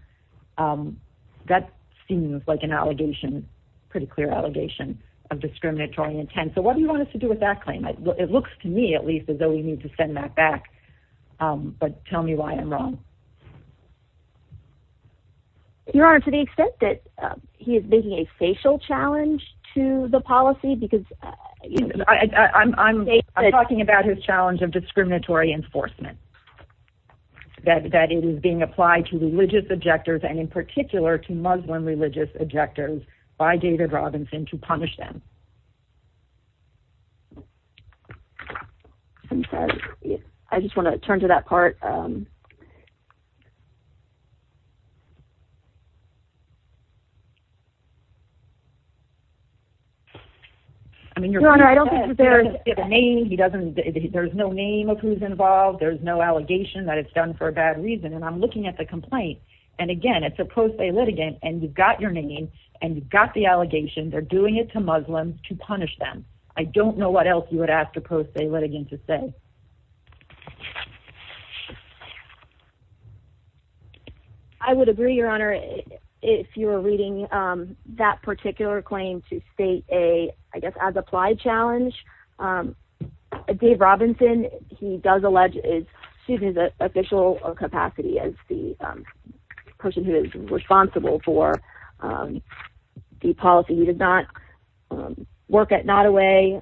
That seems like an allegation, pretty clear allegation of discriminatory intent. So what do you want us to do with that claim? It looks to me, at least, as though we need to send that back. But tell me why I'm wrong. Your Honor, to the extent that he is making a facial challenge to the policy, because I'm talking about his challenge of discriminatory enforcement. That it is being applied to religious objectors and in particular to Muslim religious objectors by David Robinson to punish them. I just want to turn to that part. Your Honor, I don't think that there is a name. There is no name of who is involved. There is no allegation that it's done for a bad reason. And I'm looking at the complaint. And again, it's a pro se litigant and you've got your name and you've got the allegation. They're doing it to Muslims to punish them. I don't know what else you would ask a pro se litigant to say. I would agree, Your Honor, if you were reading that particular claim to state a, I guess, as-applied challenge. Dave Robinson, he does allege, excuse me, his official capacity as the person who is responsible for the policy. He did not work at Nottoway.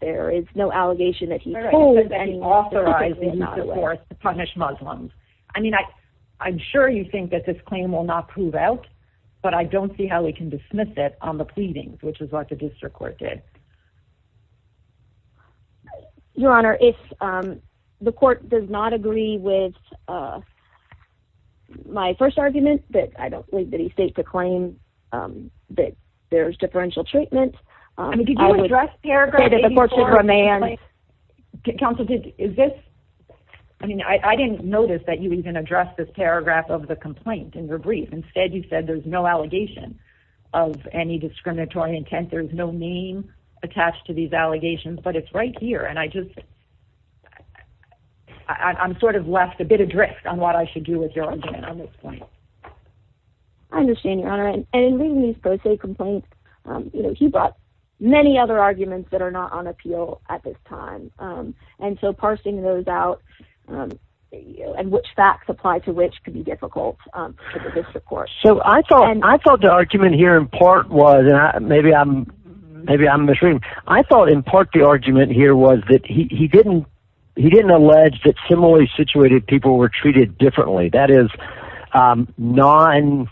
There is no allegation that he told anyone that he authorized the use of force to punish Muslims. I mean, I'm sure you think that this claim will not prove out, but I don't see how we can dismiss it on the pleadings, which is what the district court did. Your Honor, if the court does not agree with my first argument, that I don't believe that he states a claim that there's differential treatment. I mean, did you address paragraph 84 of the complaint? Counsel, did, is this, I mean, I didn't notice that you even addressed this paragraph of the complaint in your brief. Instead, you said there's no allegation of any discriminatory intent. There's no name attached to these allegations, but it's right here. And I just, I'm sort of left a bit adrift on what I should do with your argument on this point. I understand, Your Honor. And in reading these pro se complaints, you know, he brought many other arguments that are not on appeal at this time. And so parsing those out and which facts apply to which could be difficult for the district court. So I thought, I thought the argument here in part was, and maybe I'm, maybe I'm misreading. I thought in part the argument here was that he didn't, he didn't allege that similarly situated people were treated differently. That is non,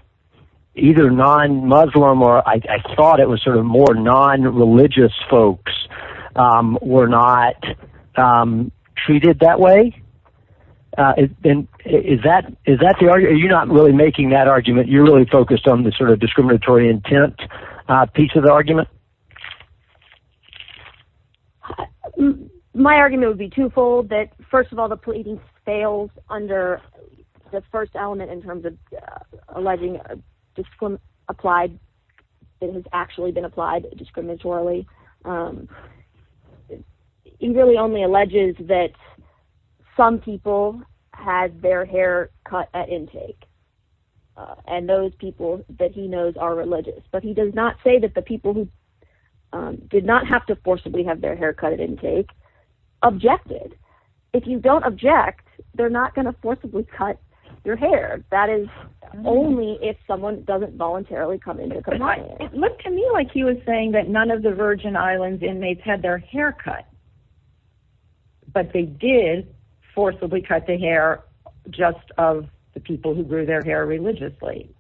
either non-Muslim or I thought it was sort of more non-religious folks were not treated that way. And is that, is that the argument? Are you not really making that argument? You're really focused on the sort of discriminatory intent piece of the argument? My argument would be twofold, that first of all, the pleading fails under the first element in terms of alleging a discrim, applied, it has actually been applied discriminatorily. He really only alleges that some people had their hair cut at intake. And those people that he knows are religious, but he does not say that the people who did not have to forcibly have their hair cut at intake objected. If you don't object, they're not going to forcibly cut your hair. That is only if someone doesn't voluntarily come into compliance. It looked to me like he was saying that none of the Virgin Islands inmates had their hair cut, but they did forcibly cut the hair just of the people who grew their hair religiously.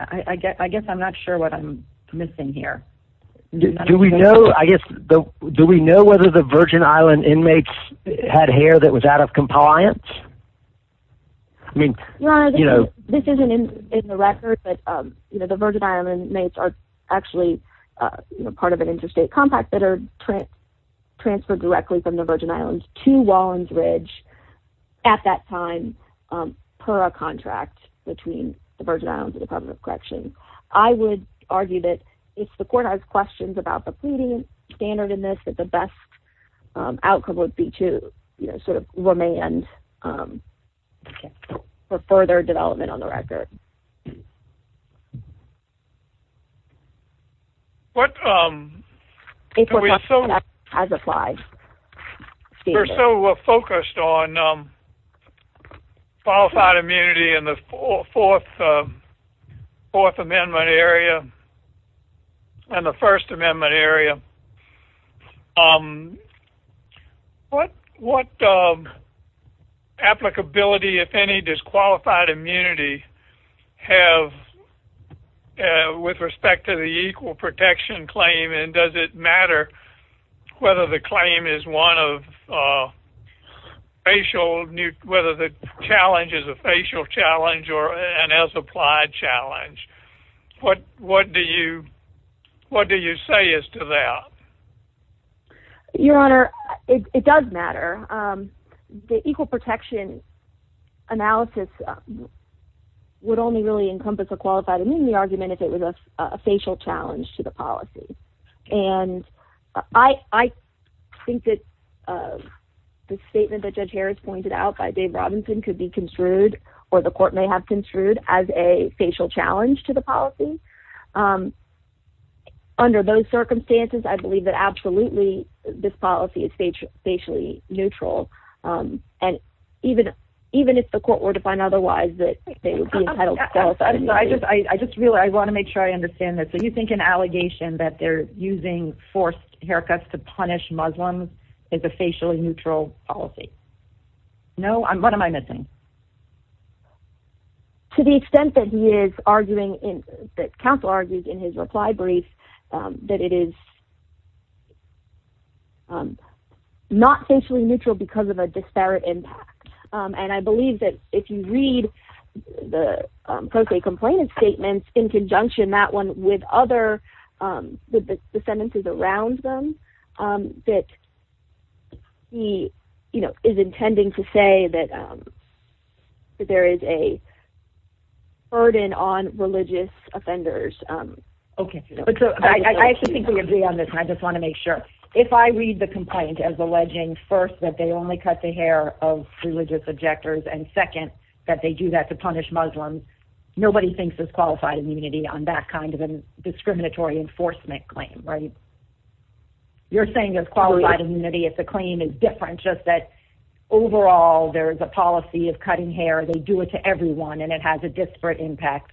I, I guess, I guess I'm not sure what I'm missing here. Do we know, I guess, do we know whether the Virgin Island inmates had hair that was out of compliance? I mean, you know, this isn't in the record, but, you know, the Virgin Island inmates are actually part of an interstate compact that are transferred directly from the Virgin Islands to Wallens Ridge at that time per a contract between the Virgin Islands and the Department of Corrections. I would argue that if the court has questions about the pleading standard in this, that the best outcome would be to, you know, sort of remand for further development on the record. We're so focused on qualified immunity in the Fourth Amendment area and the First Amendment area. What, what applicability, if any, does qualified immunity have with respect to the equal protection claim? And does it matter whether the claim is one of facial, whether the challenge is a facial challenge or an as applied challenge? What, what do you, what do you say as to that? Your Honor, it does matter. The equal protection analysis would only really encompass a qualified immunity argument if it was a facial challenge to the policy. And I, I think that the statement that Judge Harris pointed out by Dave Robinson could be construed or the court may have construed as a facial challenge to the policy. Under those circumstances, I believe that absolutely this policy is facially neutral. And even, even if the court were to find otherwise that they would be entitled to qualified immunity. I just, I just really, I want to make sure I understand this. So you think an allegation that they're using forced haircuts to punish Muslims is a facially neutral policy? No, I'm, what am I missing? To the extent that he is arguing in, that counsel argues in his reply brief that it is not facially neutral because of a disparate impact. And I believe that if you read the post-date complainant statements in conjunction that one with other, with the sentences around them, that he, you know, is intending to say that there is a burden on religious offenders. Okay. I actually think we agree on this. I just want to make sure. If I read the complaint as alleging first that they only cut the hair of religious objectors and second, that they do that to punish Muslims. Nobody thinks it's qualified immunity on that kind of a discriminatory enforcement claim, right? You're saying there's qualified immunity if the claim is different, just that overall there is a policy of cutting hair. They do it to everyone and it has a disparate impact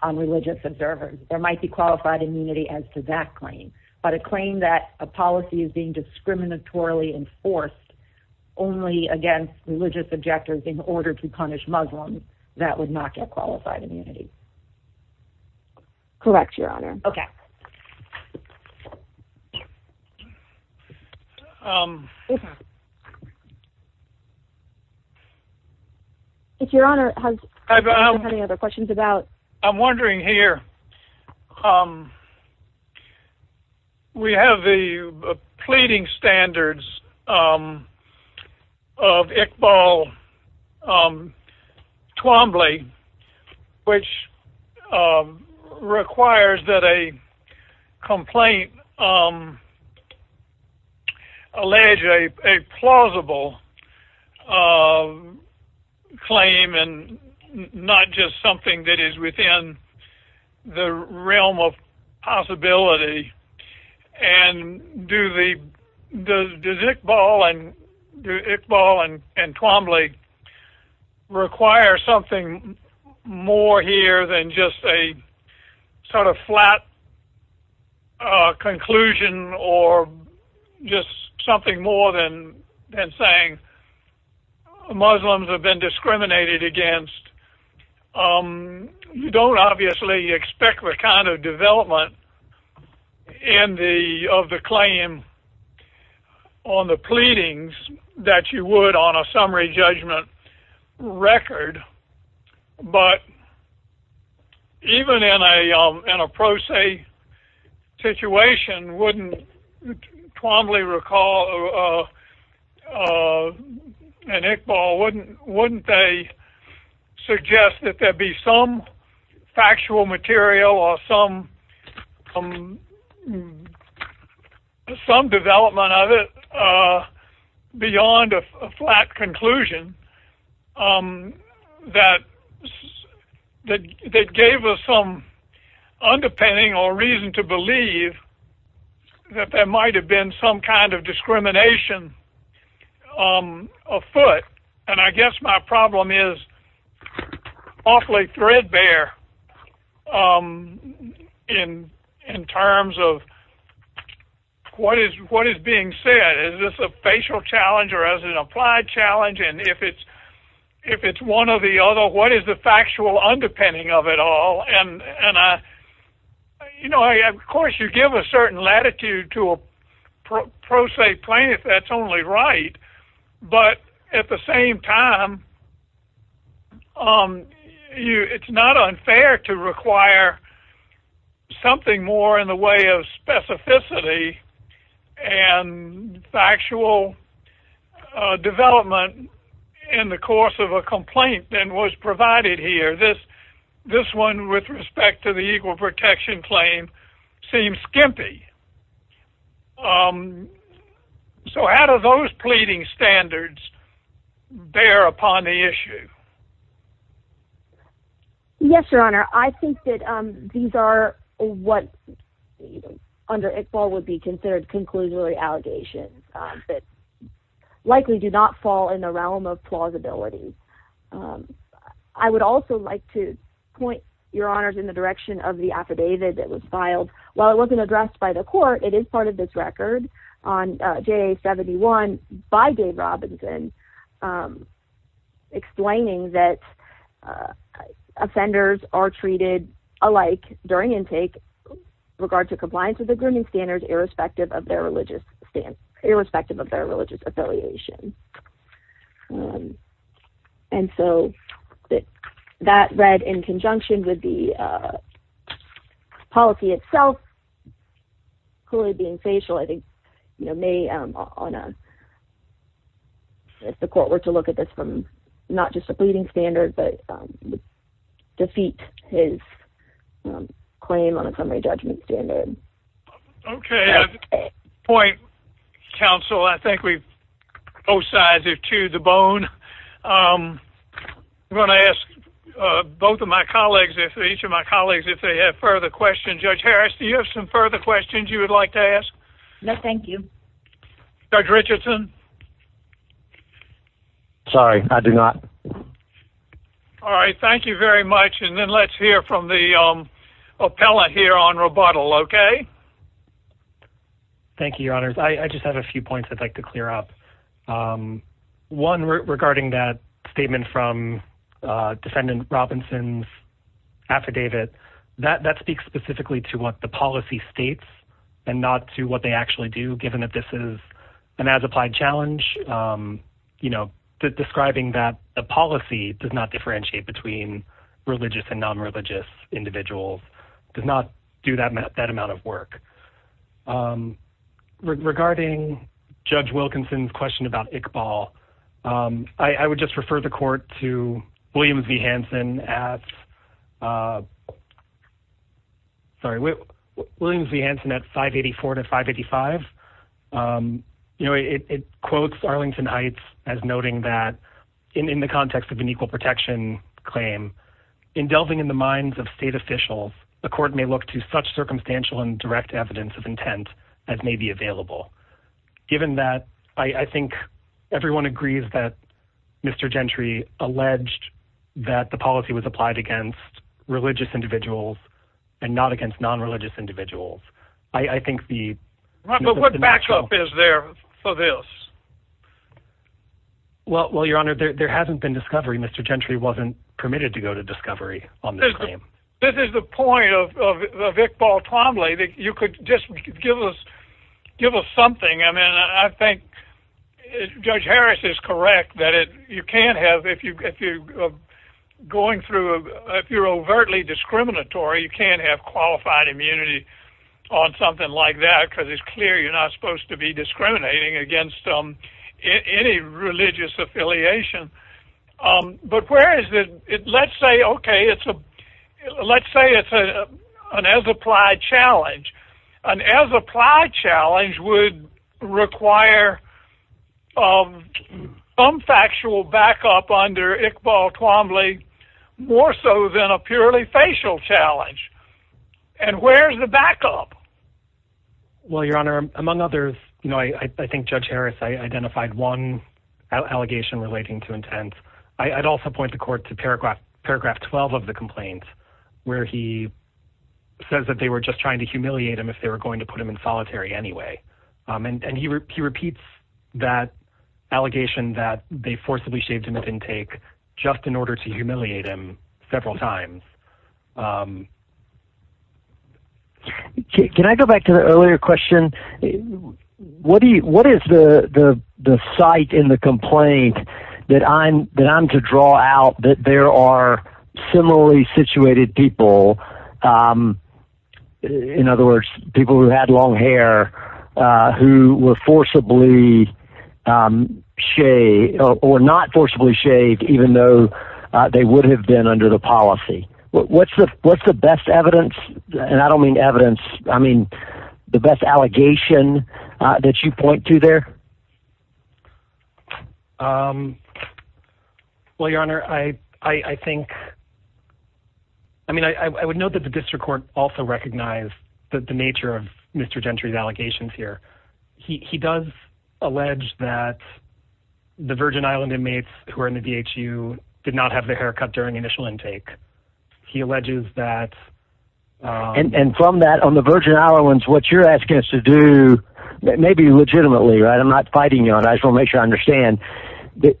on religious observers. There might be qualified immunity as to that claim. But a claim that a policy is being discriminatorily enforced only against religious objectors in order to punish Muslims, that would not get qualified immunity. Correct, Your Honor. Okay. If Your Honor has any other questions about. I'm wondering here, we have the pleading standards of Iqbal Twombly, which requires that a complaint allege a plausible claim and not just something that is within the realm of possibility. Does Iqbal and Twombly require something more here than just a sort of flat conclusion or just something more than saying Muslims have been discriminated against? You don't obviously expect the kind of development of the claim on the pleadings that you would on a summary judgment record. But even in a pro se situation, wouldn't Twombly recall, and Iqbal, wouldn't they suggest that there be some factual material or some development of it beyond a flat conclusion? That gave us some underpinning or reason to believe that there might have been some kind of discrimination afoot. And I guess my problem is awfully threadbare in terms of what is being said. Is this a facial challenge or is it an applied challenge? And if it's one or the other, what is the factual underpinning of it all? Of course you give a certain latitude to a pro se plaintiff, that's only right. But at the same time, it's not unfair to require something more in the way of specificity and factual development in the course of a complaint than was provided here. This one with respect to the equal protection claim seems skimpy. So how do those pleading standards bear upon the issue? Yes, Your Honor, I think that these are what under Iqbal would be considered conclusionary allegations that likely do not fall in the realm of plausibility. I would also like to point, Your Honors, in the direction of the affidavit that was filed. While it wasn't addressed by the court, it is part of this record on JA 71 by Dave Robinson explaining that offenders are treated alike during intake with regard to compliance with the grooming standards irrespective of their religious affiliation. And so that read in conjunction with the policy itself, clearly being facial, I think may, if the court were to look at this from not just a pleading standard, but defeat his claim on a summary judgment standard. OK. Point, counsel, I think we both sides have chewed the bone. I'm going to ask both of my colleagues, each of my colleagues, if they have further questions. Judge Harris, do you have some further questions you would like to ask? No, thank you. Judge Richardson? Sorry, I do not. All right. Thank you very much. And then let's hear from the appellate here on rebuttal. Thank you, Your Honors. I just have a few points I'd like to clear up. One regarding that statement from Defendant Robinson's affidavit that that speaks specifically to what the policy states and not to what they actually do, given that this is an as applied challenge, you know, describing that the policy does not differentiate between religious and nonreligious individuals, does not do that, that amount of work. Regarding Judge Wilkinson's question about Iqbal, I would just refer the court to Williams v. Hansen at. Sorry, Williams v. Hansen at 584 to 585. You know, it quotes Arlington Heights as noting that in the context of an equal protection claim, in delving in the minds of state officials, the court may look to such circumstantial and direct evidence of intent as may be available. Given that, I think everyone agrees that Mr. Gentry alleged that the policy was applied against religious individuals and not against nonreligious individuals. I think the... But what backup is there for this? Well, Your Honor, there hasn't been discovery. Mr. Gentry wasn't permitted to go to discovery on this claim. This is the point of Iqbal Twombly, that you could just give us something. I mean, I think Judge Harris is correct that you can't have, if you're going through, if you're overtly discriminatory, you can't have qualified immunity on something like that because it's clear you're not supposed to be discriminating against any religious affiliation. But where is it? Let's say, okay, let's say it's an as-applied challenge. An as-applied challenge would require some factual backup under Iqbal Twombly, more so than a purely facial challenge. And where's the backup? Well, Your Honor, among others, I think Judge Harris identified one allegation relating to intent. I'd also point the court to paragraph 12 of the complaint, where he says that they were just trying to humiliate him if they were going to put him in solitary anyway. And he repeats that allegation that they forcibly shaved him at intake just in order to humiliate him several times. Can I go back to the earlier question? What is the site in the complaint that I'm to draw out that there are similarly situated people, in other words, people who had long hair, who were forcibly shaved, or not forcibly shaved, even though they would have been under the policy? What's the best evidence? And I don't mean evidence. I mean, the best allegation that you point to there? Well, Your Honor, I think – I mean, I would note that the district court also recognized the nature of Mr. Gentry's allegations here. He does allege that the Virgin Island inmates who are in the DHU did not have their hair cut during initial intake. He alleges that – And from that, on the Virgin Islands, what you're asking us to do – maybe legitimately, right? I'm not fighting you on it. I just want to make sure I understand.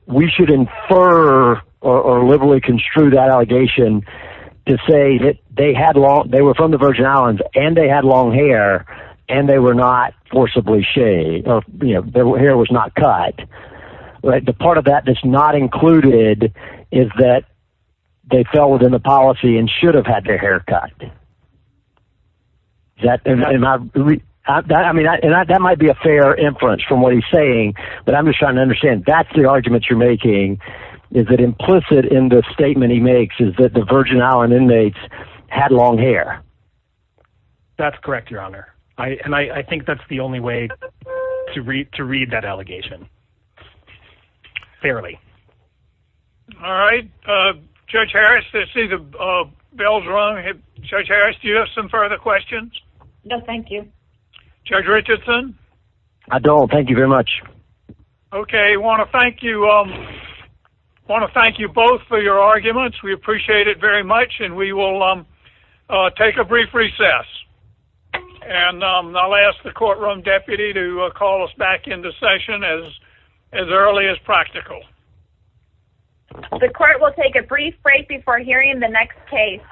We should infer or liberally construe that allegation to say that they were from the Virgin Islands, and they had long hair, and they were not forcibly shaved. Their hair was not cut. The part of that that's not included is that they fell within the policy and should have had their hair cut. That might be a fair inference from what he's saying, but I'm just trying to understand. That's the argument you're making. Is it implicit in the statement he makes is that the Virgin Island inmates had long hair? That's correct, Your Honor, and I think that's the only way to read that allegation fairly. All right. Judge Harris, I see the bell's rung. Judge Harris, do you have some further questions? No, thank you. Judge Richardson? I don't. Thank you very much. Okay. I want to thank you both for your arguments. We appreciate it very much, and we will take a brief recess, and I'll ask the courtroom deputy to call us back into session as early as practical. The court will take a brief break before hearing the next case.